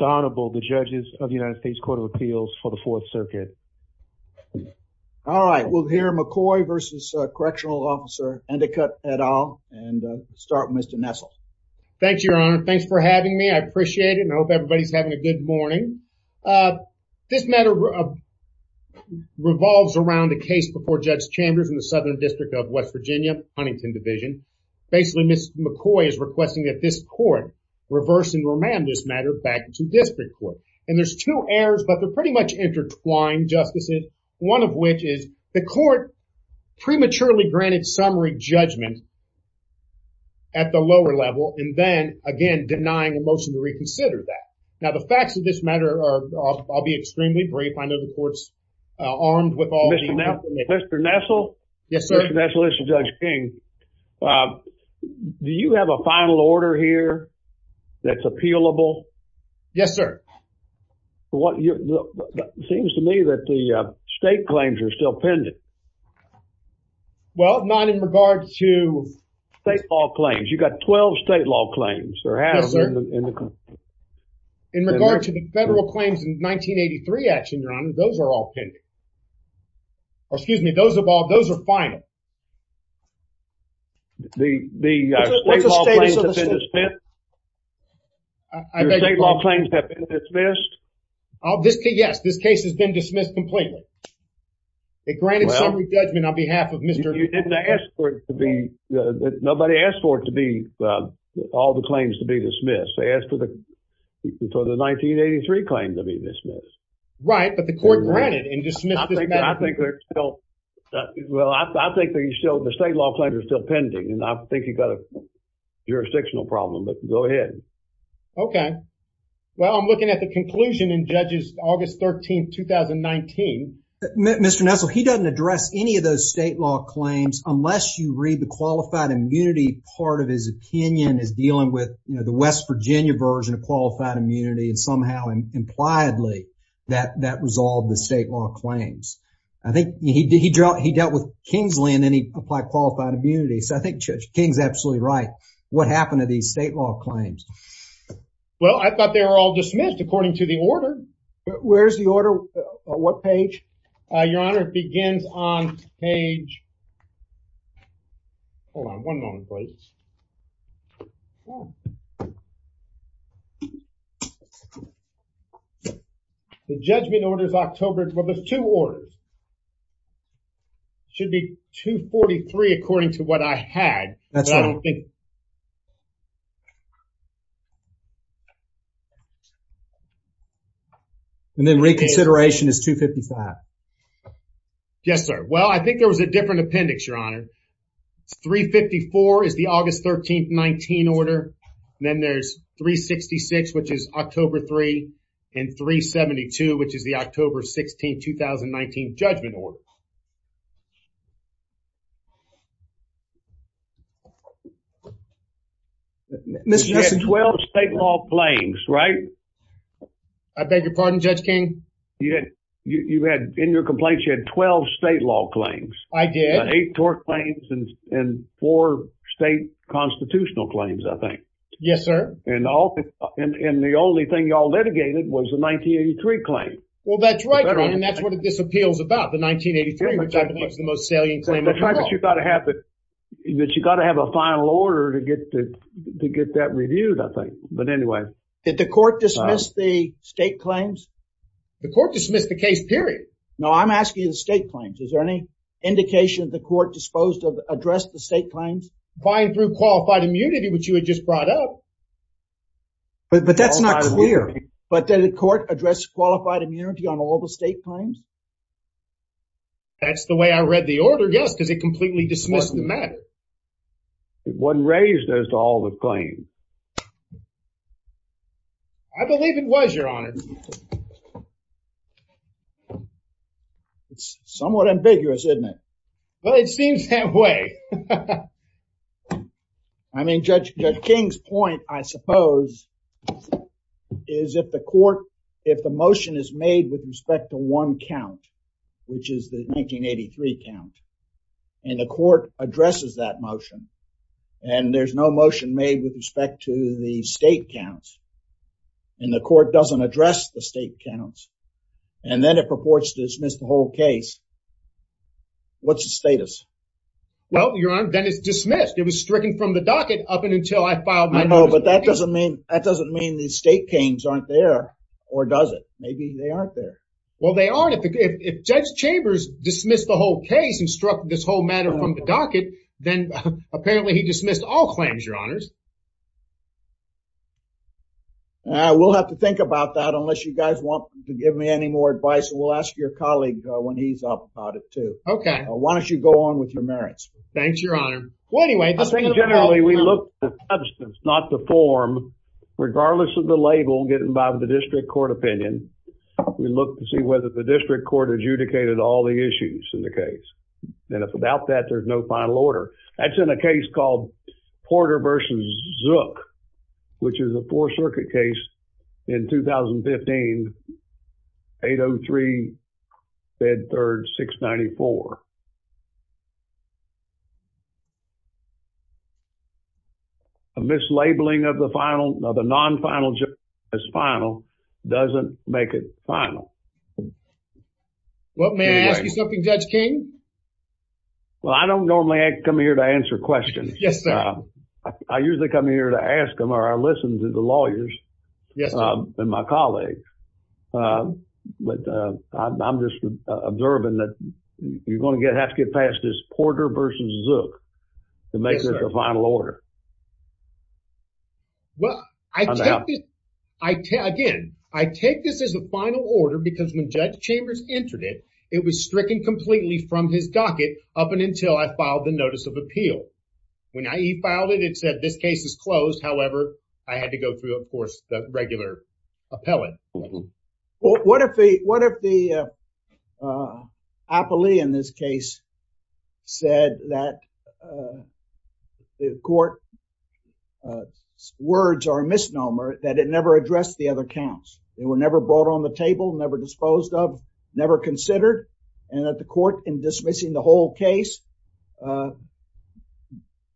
Donable, the judges of the United States Court of Appeals for the Fourth Circuit. All right, we'll hear McCoy v. Correctional Officer Endicott et al. and start with Mr. Nessel. Thank you, Your Honor. Thanks for having me. I appreciate it and I hope everybody's having a good morning. This matter revolves around a case before Judge Chambers in the Southern reverse and remand this matter back to district court. And there's two errors, but they're pretty much intertwined, Justices, one of which is the court prematurely granted summary judgment at the lower level and then, again, denying a motion to reconsider that. Now, the facts of this matter are, I'll be extremely brief. I know the court's armed with all the information. Mr. Nessel? Yes, sir. Mr. Nessel, this is Judge King. Do you have a final order here that's appealable? Yes, sir. Seems to me that the state claims are still pending. Well, not in regard to... State law claims. You've got 12 state law claims. Yes, sir. In regard to the federal claims in 1983 action, Your Honor, those are all pending. Or, excuse me, those are all, those are final. The state law claims have been dismissed? Your state law claims have been dismissed? Yes, this case has been dismissed completely. They granted summary judgment on behalf of Mr. You didn't ask for it to be, nobody asked for it to be, all the claims to be dismissed. They asked for the 1983 claim to be dismissed. Right, but the court granted and dismissed this matter. I think they're still, well, I think they're still, the state law claims are still pending and I think you've got a jurisdictional problem, but go ahead. Okay. Well, I'm looking at the conclusion in Judge's August 13th, 2019. Mr. Nessel, he doesn't address any of those state law claims unless you read the qualified immunity part of his opinion as dealing with, the West Virginia version of qualified immunity and somehow and impliedly that, that resolved the state law claims. I think he dealt with Kingsley and then he applied qualified immunity. So I think Judge King's absolutely right. What happened to these state law claims? Well, I thought they were all dismissed according to the order. Where's the order? What page? Your Honor, it begins on page, hold on one moment, please. Okay. The judgment order is October, well, there's two orders. Should be 243 according to what I had. That's right. And then reconsideration is 255. Yes, sir. Well, I think there was a different appendix, Your Honor. It's 354 is the August 13th, 19 order. Then there's 366, which is October 3 and 372, which is the October 16th, 2019 judgment order. Mr. Nessel. You had 12 state law claims, right? I beg your pardon, Judge King? You had, in your complaints, you had 12 state law claims. I did. Eight tort claims and four state constitutional claims, I think. Yes, sir. And the only thing y'all litigated was the 1983 claim. Well, that's right, and that's what this appeal is about, the 1983, which I think is the most salient claim. That's right, but you've got to have a final order to get that reviewed, I think. But anyway. Did the court dismiss the state claims? The court dismissed the case, period. No, I'm asking the state claims. Is there any indication the court disposed of addressed the state claims? By and through qualified immunity, which you had just brought up. But that's not clear. But did the court address qualified immunity on all the state claims? That's the way I read the order, yes, because it completely dismissed the matter. It wasn't raised as to all the claims. I believe it was, Your Honor. It's somewhat ambiguous, isn't it? Well, it seems that way. I mean, Judge King's point, I suppose, is if the motion is made with respect to one count, which is the 1983 count, and the court addresses that motion, and there's no motion made with respect to the state counts, and the court doesn't address the state counts, and then it purports to dismiss the whole case, what's the status? Well, Your Honor, then it's dismissed. It was stricken from the docket up until I filed my notice. No, but that doesn't mean the state claims aren't there, or does it? Maybe they aren't. If Judge Chambers dismissed the whole case and struck this whole matter from the docket, then apparently he dismissed all claims, Your Honors. We'll have to think about that unless you guys want to give me any more advice. We'll ask your colleague when he's up about it, too. Okay. Why don't you go on with your merits? Thanks, Your Honor. Well, anyway. I think generally we look at the substance, not the form, regardless of the label, getting by with the district court opinion. We look to see whether the district court adjudicated all the issues in the case, and if without that, there's no final order. That's in a case called Porter v. Zook, which is a Fourth Circuit case in 2015, 803 Bed 3rd, 694. A mislabeling of the non-final as final doesn't make it final. Well, may I ask you something, Judge King? Well, I don't normally come here to answer questions. Yes, sir. I usually come here to ask them, or I listen to the lawyers and my colleagues. But I'm just observing that you're going to have to get past this Porter v. Zook to make this a final order. Yes, sir. Well, again, I take this as a final order because when Judge Chambers entered it, it was stricken completely from his docket up until I filed the notice of appeal. When I e-filed it, it said this case is closed. However, I had to go through, of course, regular appellate. What if the appellee in this case said that the court's words are a misnomer, that it never addressed the other counts? They were never brought on the table, never disposed of, never considered, and that the court, in dismissing the whole case,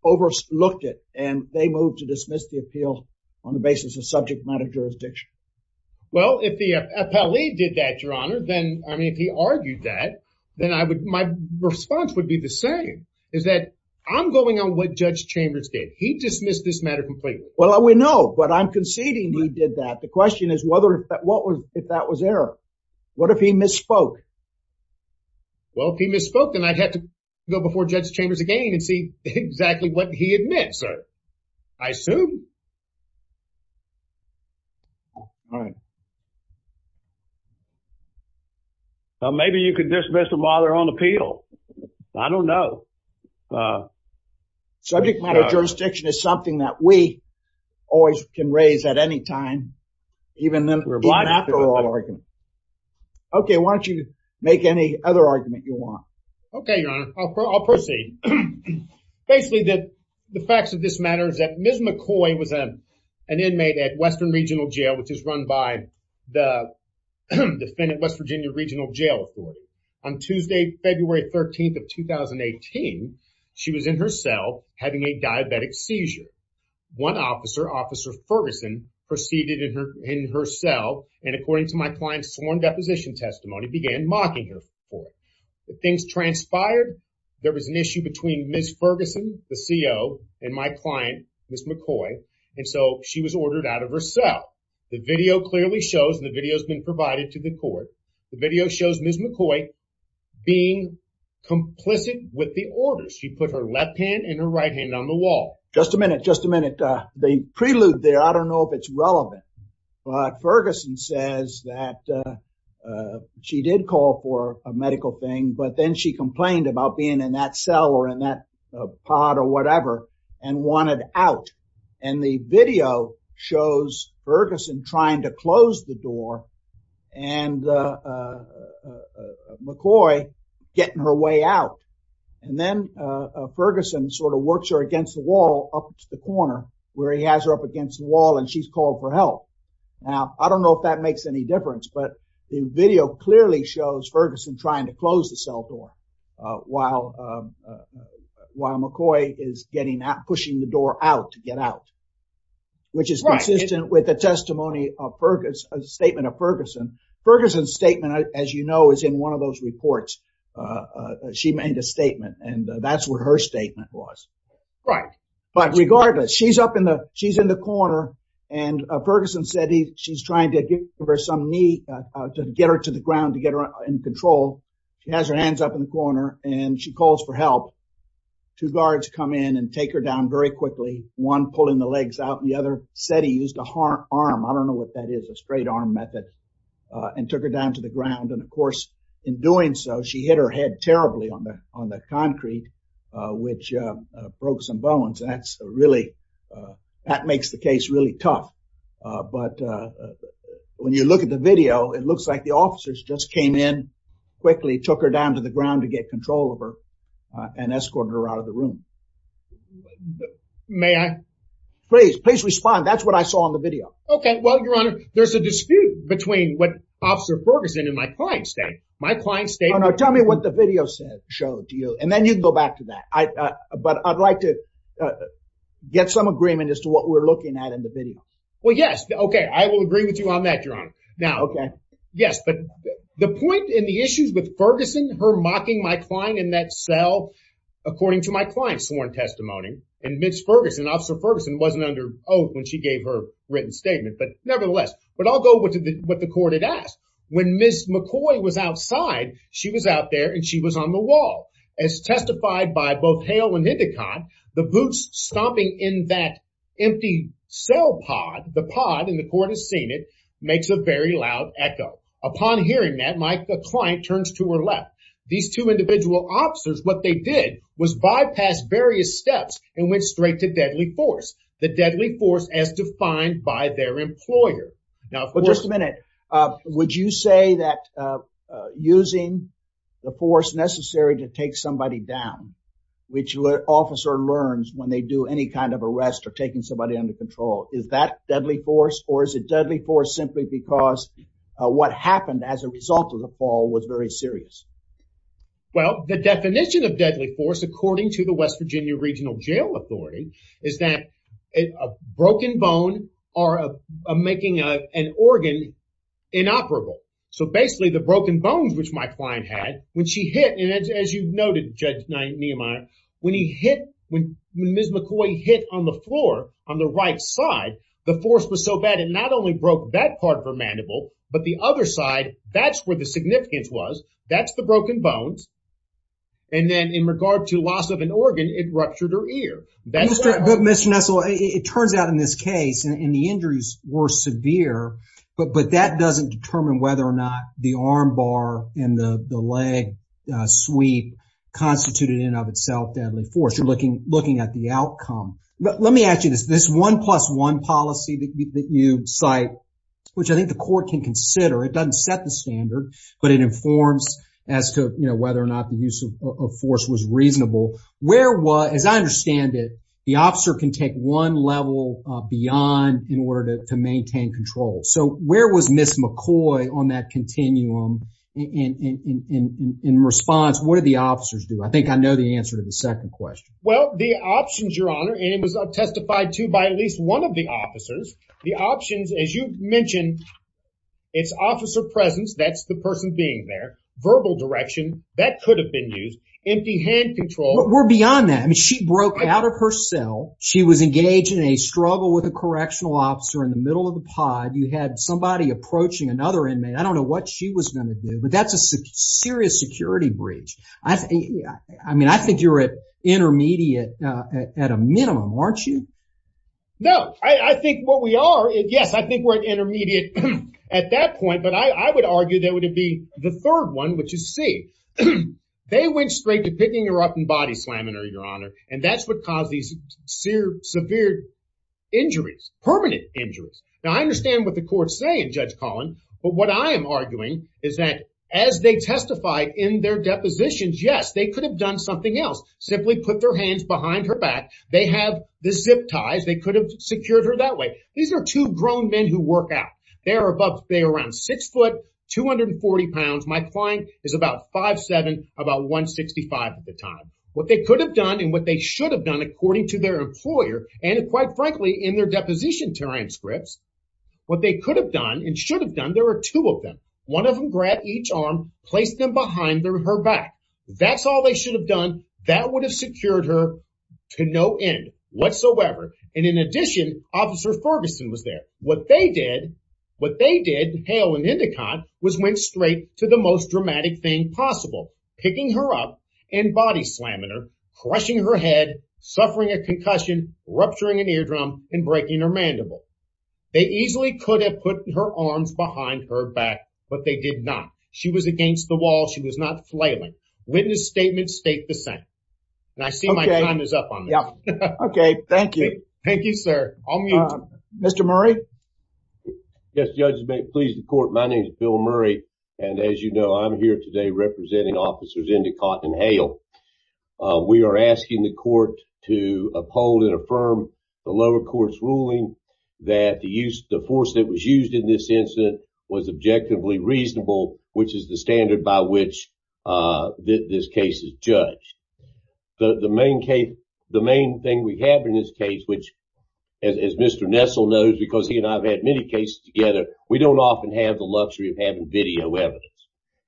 overlooked it, and they moved to dismiss the appeal on the basis of subject matter jurisdiction. Well, if the appellee did that, Your Honor, then, I mean, if he argued that, then my response would be the same, is that I'm going on what Judge Chambers did. He dismissed this matter completely. Well, we know, but I'm conceding he did that. The question is, if that was error, what if he misspoke? Well, if he misspoke, then I'd have to go before Judge Chambers again and see exactly what he had meant, sir. I assume. Well, maybe you could dismiss them while they're on appeal. I don't know. Subject matter jurisdiction is something that we always can raise at any time, even after all arguments. Okay, why don't you make any other argument you want? Okay, Your Honor. I'll proceed. Basically, the facts of this matter is that Ms. McCoy was an inmate at Western Regional Jail, which is run by the defendant, West Virginia Regional Jail Authority. On Tuesday, February 13th of 2018, she was in her cell having a diabetic seizure. One officer, Officer Ferguson, proceeded in her cell, and according to my client's sworn deposition testimony, began mocking her. Things transpired. There was an issue between Ms. Ferguson, the CO, and my client, Ms. McCoy, and so she was ordered out of her cell. The video clearly shows, and the video's been provided to the court, the video shows Ms. McCoy being complicit with the order. She put her left hand and her right hand on the wall. Just a minute, just a minute. The prelude there, I don't know if it's relevant, but Ferguson says that she did call for a medical thing, but then she complained about being in that cell or in that pod or whatever and wanted out, and the video shows Ferguson trying to close the corner where he has her up against the wall and she's called for help. Now, I don't know if that makes any difference, but the video clearly shows Ferguson trying to close the cell door while McCoy is pushing the door out to get out, which is consistent with the testimony of Ferguson, a statement of Ferguson. Ferguson's statement, as you know, is in one of those reports. She made a statement, and that's what her statement was. But regardless, she's in the corner, and Ferguson said she's trying to give her some knee to get her to the ground to get her in control. She has her hands up in the corner, and she calls for help. Two guards come in and take her down very quickly, one pulling the legs out, and the other said he used an arm, I don't know what that is, a straight arm method, and took her down to the ground, and of course, in doing so, she hit her head terribly on the concrete, which broke some bones, and that's really, that makes the case really tough. But when you look at the video, it looks like the officers just came in quickly, took her down to the ground to get control of her, and escorted her out of the room. May I? Please, please respond. That's what I saw in the video. Okay, well, Your Honor, there's a dispute between what Officer Ferguson and my client stated. My client stated- No, no, tell me what the video showed to you, and then you can go back to that. But I'd like to get some agreement as to what we're looking at in the video. Well, yes. Okay, I will agree with you on that, Your Honor. Now, okay. Yes, but the point in the issues with Ferguson, her mocking my client in that cell, according to my client's sworn testimony, and Ms. Ferguson, Officer Ferguson wasn't under oath when she gave her written statement. But nevertheless, but I'll go with what the court had asked. When Ms. McCoy was outside, she was out there and she was on the wall. As testified by both Hale and Hindicott, the boots stomping in that empty cell pod, the pod, and the court has seen it, makes a very loud echo. Upon hearing that, my client turns to her left. These two individual officers, what they did was bypass various steps and went straight to deadly force. The deadly force as defined by their employer. Now, just a minute, would you say that using the force necessary to take somebody down, which officer learns when they do any kind of arrest or taking somebody under control, is that deadly force or is it deadly force simply because what happened as a result of the fall was very serious? Well, the definition of deadly force, according to the West Virginia Regional Jail Authority, is that a broken bone or making an organ inoperable. So basically, the broken bones, which my client had, when she hit, and as you've noted, Judge Nehemiah, when Ms. McCoy hit on the floor on the right side, the force was so bad, it not only broke that part of her mandible, but the other side, that's where the significance was. That's the broken bones. And then in regard to loss of an organ, it ruptured her ear. Mr. Nestle, it turns out in this case, and the injuries were severe, but that doesn't determine whether or not the arm bar and the leg sweep constituted in and of itself deadly force. You're looking at the outcome. Let me ask you this, this one plus one policy that you cite, which I think the court can consider, it doesn't set the standard, but it informs as to whether or not the use of force was reasonable. Where was, as I understand it, the officer can take one level beyond in order to maintain control. So where was Ms. McCoy on that continuum? And in response, what did the officers do? I think I know the answer to the second question. Well, the options, Your Honor, and it was testified to by at least one of the officers, the options, as you mentioned, it's officer presence. That's the person being there. Verbal direction, that could have been used. Empty hand control. We're beyond that. I mean, she broke out of her cell. She was engaged in a struggle with a correctional officer in the middle of the pod. You had somebody approaching another inmate. I don't know what she was going to do, but that's a serious security breach. I mean, I think you're intermediate at a minimum, aren't you? No. I think what we are, yes, I think we're intermediate at that point, but I would argue that would be the third one, which is C. They went straight to picking her up and body slamming her, Your Honor, and that's what caused these severe injuries, permanent injuries. Now, I understand what the courts say in Judge Collin, but what I am arguing is that as they testified in their depositions, yes, they could have done something else. Simply put their hands behind her back. They have the zip ties. They could have secured her that way. These are two grown men who work out. They're about, they're around six foot, 240 pounds. My client is about 5'7", about 165 at the time. What they could have done and what they should have done according to their employer, and quite frankly, in their deposition transcripts, what they could have done and should have done, there were two of them. One of them grabbed each arm, placed them behind her back. That's all they should have done. That would have secured her to no end whatsoever. In addition, Officer Ferguson was there. What they did, what they did, Hale and Endicott, was went straight to the most dramatic thing possible, picking her up and body slamming her, crushing her head, suffering a concussion, rupturing an eardrum, and breaking her mandible. They easily could have put her arms behind her back, but they did not. She was against the wall. She was not flailing. Witness statements state the same, and I see my time is up on this. Okay, thank you. Thank you, sir. I'll mute. Mr. Murray? Yes, Judge, please report. My name is Bill Murray, and as you know, I'm here today representing officers Endicott and Hale. We are asking the court to uphold and affirm the lower court's ruling that the force that was used in this incident was objectively reasonable, which is the standard by which this case is judged. The main thing we have in this case, which as Mr. Nessel knows, because he and I have had many cases together, we don't often have the luxury of having video evidence.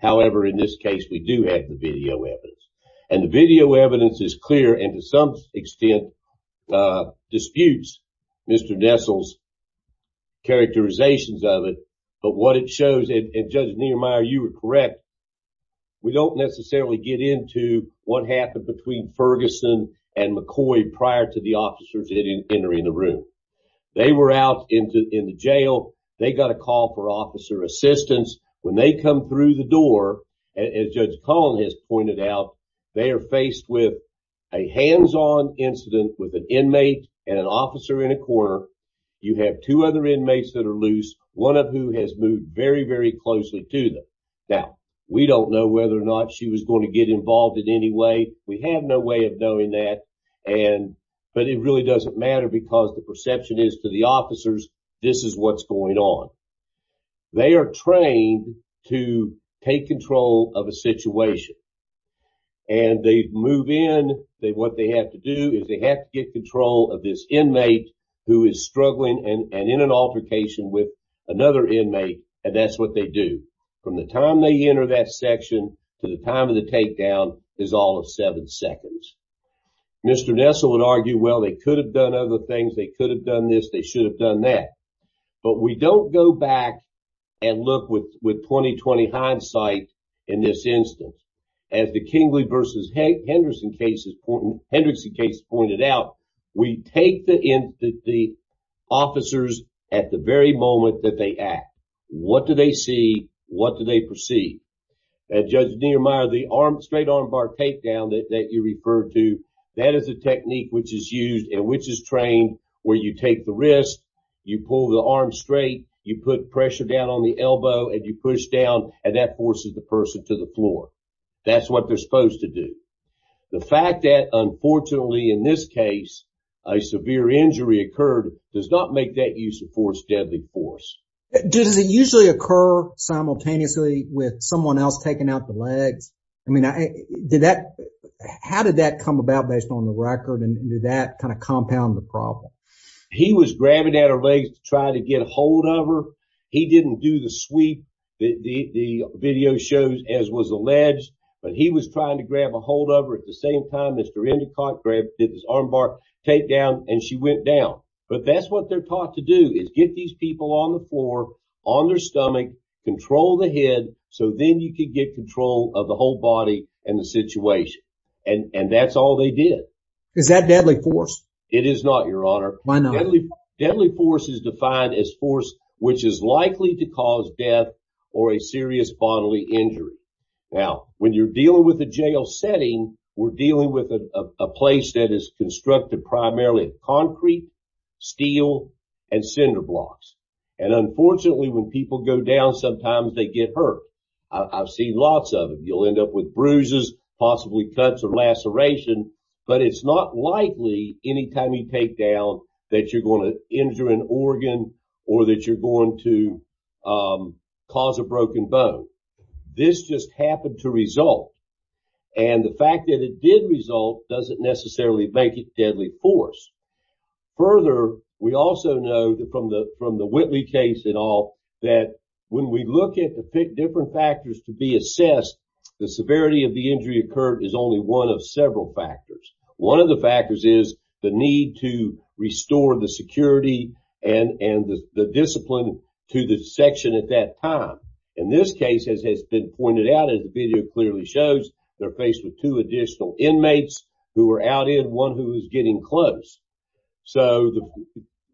However, in this case, we do have the video evidence, and the video evidence is clear, and to some extent disputes Mr. Nessel's characterizations of it. But what it shows, and Judge Niemeyer, you were correct, we don't necessarily get into what happened between Ferguson and McCoy prior to the officers entering the room. They were out in the jail. They got a call for officer assistance. When they come through the door, as Judge Cullen has pointed out, they are faced with a hands-on incident with an inmate and an officer in a corner. You have two other inmates that are loose, one of whom has moved very, very closely to them. Now, we don't know whether or not she was going to get involved in any way. We have no way of knowing that, but it really doesn't matter because the perception is to the officers, this is what's going on. They are trained to take control of a situation, and they move in. What they have to do is they have to get control of this inmate who is struggling and in an altercation with another inmate, and that's what they do. From the time they enter that section to the time of the takedown is all of seven seconds. Mr. Nessel would argue, well, they could have done other things. They should have done that, but we don't go back and look with 20-20 hindsight in this instance. As the Kingley v. Hendrickson case pointed out, we take the officers at the very moment that they act. What do they see? What do they perceive? As Judge Niemeyer, the straight-arm bar takedown that you referred to, that is a technique which is used and which is trained where you take the wrist, you pull the arm straight, you put pressure down on the elbow, and you push down, and that forces the person to the floor. That's what they're supposed to do. The fact that, unfortunately, in this case, a severe injury occurred does not make that use of force deadly force. Does it usually occur simultaneously with someone else taking out the legs? How did that come about based on the record, and did that kind of compound the problem? He was grabbing at her legs to try to get a hold of her. He didn't do the sweep that the video shows, as was alleged, but he was trying to grab a hold of her at the same time Mr. Endicott did this arm bar takedown, and she went down. But that's what they're taught to do is get these people on the floor, on their stomach, control the head, so then you can get control of the whole body and the situation. And that's all they did. Is that deadly force? It is not, Your Honor. Why not? Deadly force is defined as force which is likely to cause death or a serious bodily injury. Now, when you're dealing with a jail setting, we're dealing with a place that is constructed primarily of concrete, steel, and cinder blocks. And unfortunately, when people go down, sometimes they get hurt. I've seen lots of them. You'll end up with bruises, possibly cuts or laceration, but it's not likely anytime you take down that you're going to injure an organ or that you're going to cause a broken bone. This just happened to result, and the fact that it did result doesn't necessarily make it deadly force. Further, we also know that from the Whitley case and all that when we look at the different factors to be assessed, the severity of the injury occurred is only one of several factors. One of the factors is the need to restore the security and the discipline to the section at time. In this case, as has been pointed out, as the video clearly shows, they're faced with two additional inmates who are out in one who is getting close. So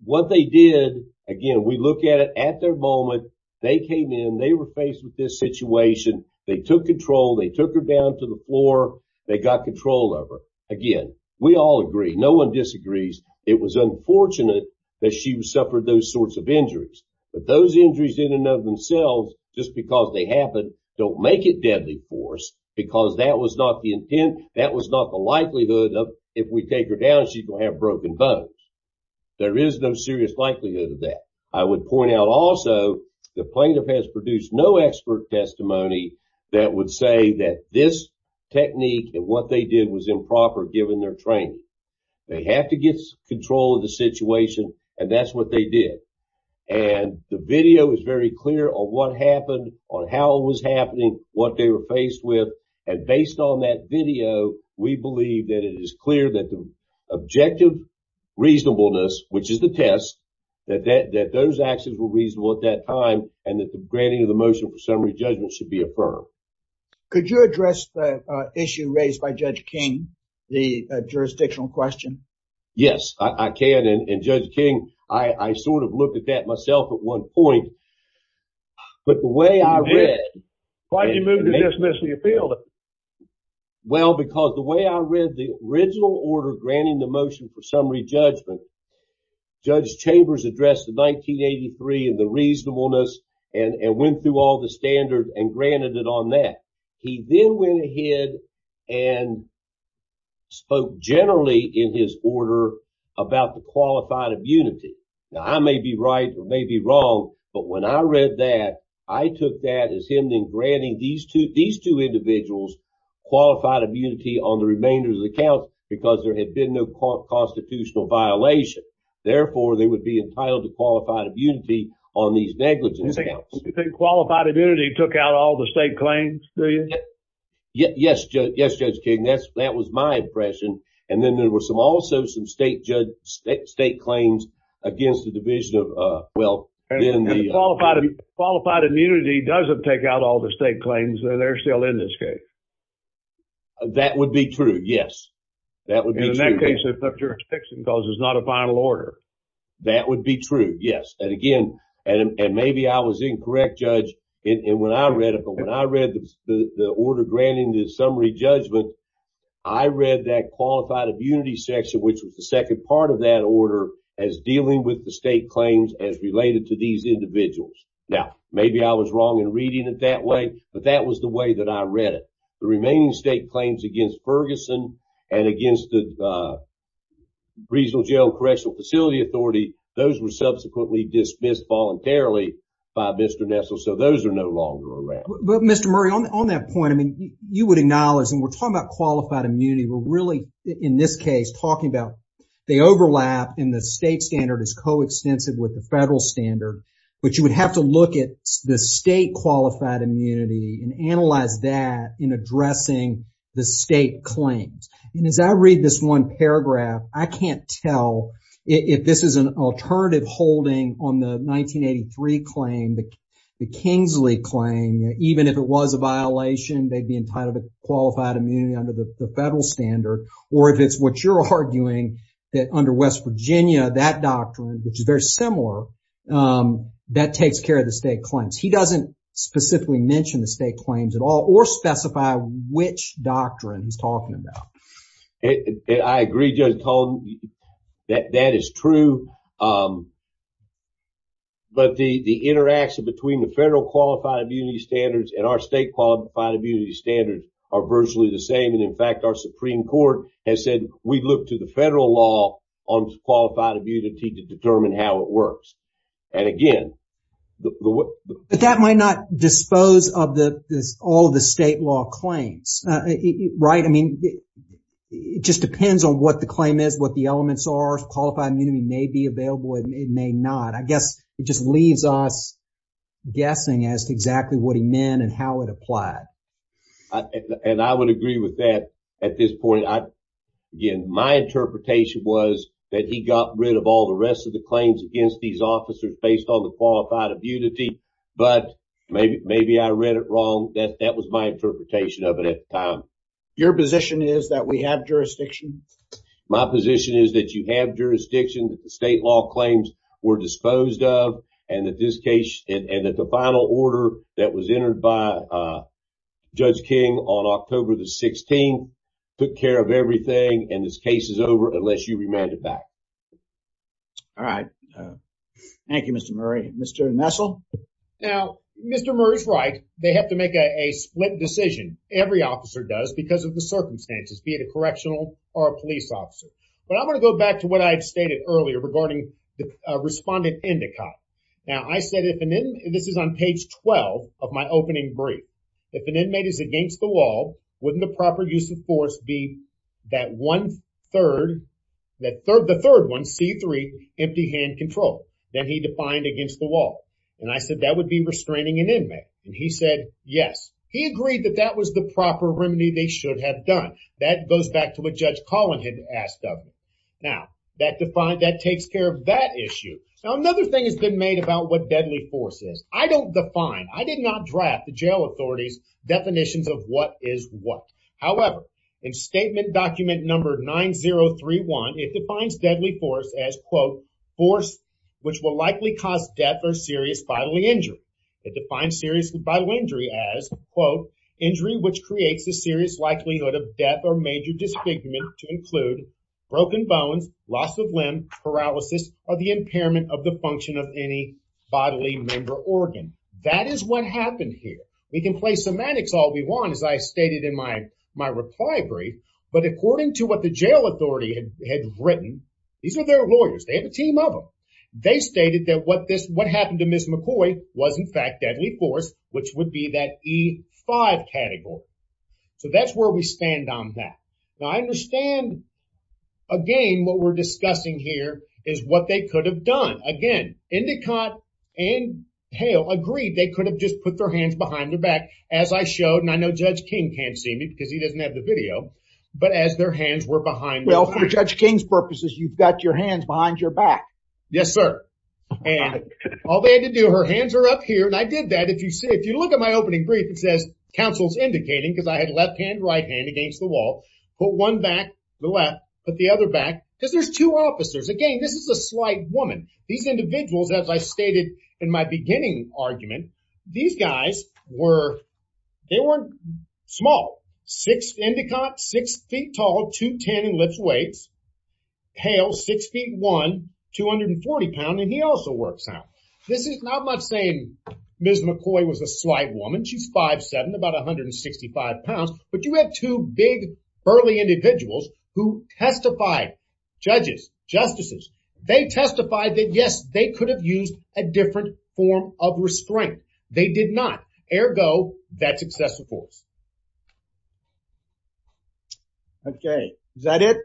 what they did, again, we look at it at their moment, they came in, they were faced with this situation, they took control, they took her down to the floor, they got control of her. Again, we all agree. No one disagrees. It was unfortunate that she suffered those sorts of injuries, but those injuries in and of themselves, just because they happen, don't make it deadly force because that was not the intent. That was not the likelihood of if we take her down, she's going to have broken bones. There is no serious likelihood of that. I would point out also the plaintiff has produced no expert testimony that would say that this technique and what they did was improper given their training. They have to get control of the situation and that's what they did. The video is very clear on what happened, on how it was happening, what they were faced with. Based on that video, we believe that it is clear that the objective reasonableness, which is the test, that those actions were reasonable at that time and that the granting of the motion for summary judgment should be affirmed. Could you address the issue raised by the jurisdictional question? Yes, I can. Judge King, I sort of looked at that myself at one point, but the way I read it. Why did you move to dismiss the appeal? Well, because the way I read the original order granting the motion for summary judgment, Judge Chambers addressed the 1983 and the reasonableness and went through all the generally in his order about the qualified immunity. Now, I may be right or may be wrong, but when I read that, I took that as him then granting these two individuals qualified immunity on the remainder of the count because there had been no constitutional violation. Therefore, they would be entitled to qualified immunity on these negligence counts. You think qualified immunity took out all the state claims? Do you? Yes, Judge King. That was my impression. And then there were also some state claims against the division of, well. Qualified immunity doesn't take out all the state claims. They're still in this case. That would be true, yes. That would be true. In that case, if the jurisdiction calls, it's not a final order. That would be true, yes. And again, and maybe I was incorrect, Judge. And when I read it, the order granting the summary judgment, I read that qualified immunity section, which was the second part of that order, as dealing with the state claims as related to these individuals. Now, maybe I was wrong in reading it that way, but that was the way that I read it. The remaining state claims against Ferguson and against the Regional Jail and Correctional Facility Authority, those were subsequently dismissed voluntarily by Mr. Murray. On that point, I mean, you would acknowledge, and we're talking about qualified immunity. We're really, in this case, talking about the overlap in the state standard is coextensive with the federal standard. But you would have to look at the state qualified immunity and analyze that in addressing the state claims. And as I read this one paragraph, I can't tell if this is an alternative holding on the 1983 claim, the Kingsley claim, even if it was a violation, they'd be entitled to qualified immunity under the federal standard. Or if it's what you're arguing, that under West Virginia, that doctrine, which is very similar, that takes care of the state claims. He doesn't specifically mention the state claims at all or specify which doctrine he's talking about. I agree, Judge Cone, that that is true. But the interaction between the federal qualified immunity standards and our state qualified immunity standards are virtually the same. And in fact, our Supreme Court has said, we look to the federal law on qualified immunity to determine how it works. And again... But that might not dispose of all the state law claims, right? I mean, it just depends on what the claim is, what the elements are. Qualified immunity may be available, it may not. I guess it just leaves us guessing as to exactly what he meant and how it applied. And I would agree with that at this point. Again, my interpretation was that he got rid of all the claims against these officers based on the qualified immunity. But maybe I read it wrong. That was my interpretation of it at the time. Your position is that we have jurisdiction? My position is that you have jurisdiction that the state law claims were disposed of and that the final order that was entered by Judge King on October the 16th took care of it. All right. Thank you, Mr. Murray. Mr. Nessel? Now, Mr. Murray's right. They have to make a split decision. Every officer does because of the circumstances, be it a correctional or a police officer. But I'm going to go back to what I've stated earlier regarding the respondent indicate. Now, I said if an inmate... This is on page 12 of my opening brief. If an inmate is against the law, wouldn't the proper use of force be that one third, the third one, C3, empty hand control that he defined against the law? And I said that would be restraining an inmate. And he said, yes. He agreed that that was the proper remedy they should have done. That goes back to what Judge Collin had asked of me. Now, that takes care of that issue. Now, another thing has been made about what deadly force is. I don't define, I did not draft the jail authority's definitions of what is what. However, in statement document number 9031, it defines deadly force as, quote, force which will likely cause death or serious bodily injury. It defines serious bodily injury as, quote, injury which creates a serious likelihood of death or major disfigurement to include broken bones, loss of limb, paralysis, or the impairment of the function of any bodily member organ. That is what happened here. We can play semantics all we want, as I stated in my reply brief. But according to what the jail authority had written, these are their lawyers. They have a team of them. They stated that what happened to Ms. McCoy was, in fact, deadly force, which would be that E5 category. So that's where we stand on that. Now, I understand, again, what we're discussing here is what they could have done. Again, Indicott and Hale agreed they could have just put their hands behind their back, as I showed, and I know Judge King can't see me because he doesn't have the video, but as their hands were behind. Well, for Judge King's purposes, you've got your hands behind your back. Yes, sir. And all they had to do, her hands are up here, and I did that. If you look at my opening brief, it says counsel's indicating, because I had left against the wall, put one back, the left, put the other back, because there's two officers. Again, this is a slight woman. These individuals, as I stated in my beginning argument, these guys were, they weren't small. Six, Indicott, six feet tall, 210 in lift weights. Hale, six feet one, 240 pounds, and he also works out. This is not much saying Ms. McCoy was a slight woman. She's about 165 pounds, but you have two big, burly individuals who testified, judges, justices. They testified that, yes, they could have used a different form of restraint. They did not. Ergo, that's excessive force. Okay. Is that it?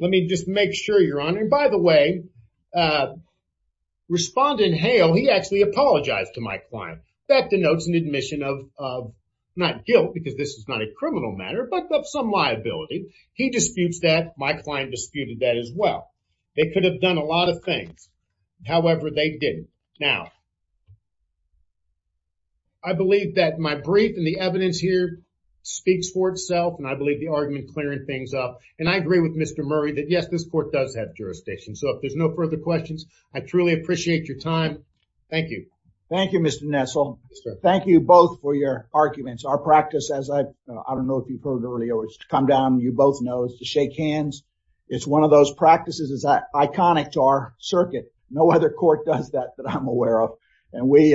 Let me just make sure, Your Honor. And by the way, Respondent Hale, he actually apologized to my client. That denotes an admission of not guilt, because this is not a criminal matter, but of some liability. He disputes that. My client disputed that as well. They could have done a lot of things. However, they didn't. Now, I believe that my brief and the evidence here speaks for itself, and I believe the argument clearing things up. And I agree with Mr. Murray that, yes, this court does have jurisdiction. So if there's no further questions, I truly appreciate your time. Thank you. Thank you, Mr. Nessel. Thank you both for your arguments. Our practice, as I don't know if you heard earlier, is to come down, you both know, is to shake hands. It's one of those practices that's iconic to our circuit. No other court does that that I'm aware of, and we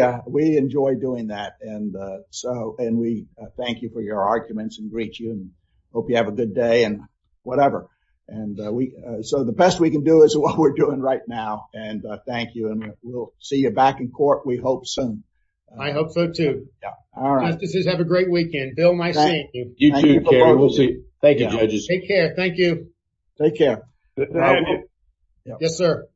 enjoy doing that. And we thank you for your arguments and greet you and hope you have a good day and whatever. And so the best we can do is what we're doing right now. And thank you. And we'll see you back in court, we hope, soon. I hope so, too. Justices, have a great weekend. Bill, nice seeing you. You too, Kerry. We'll see you. Thank you, judges. Take care. Thank you. Take care. Yes, sir.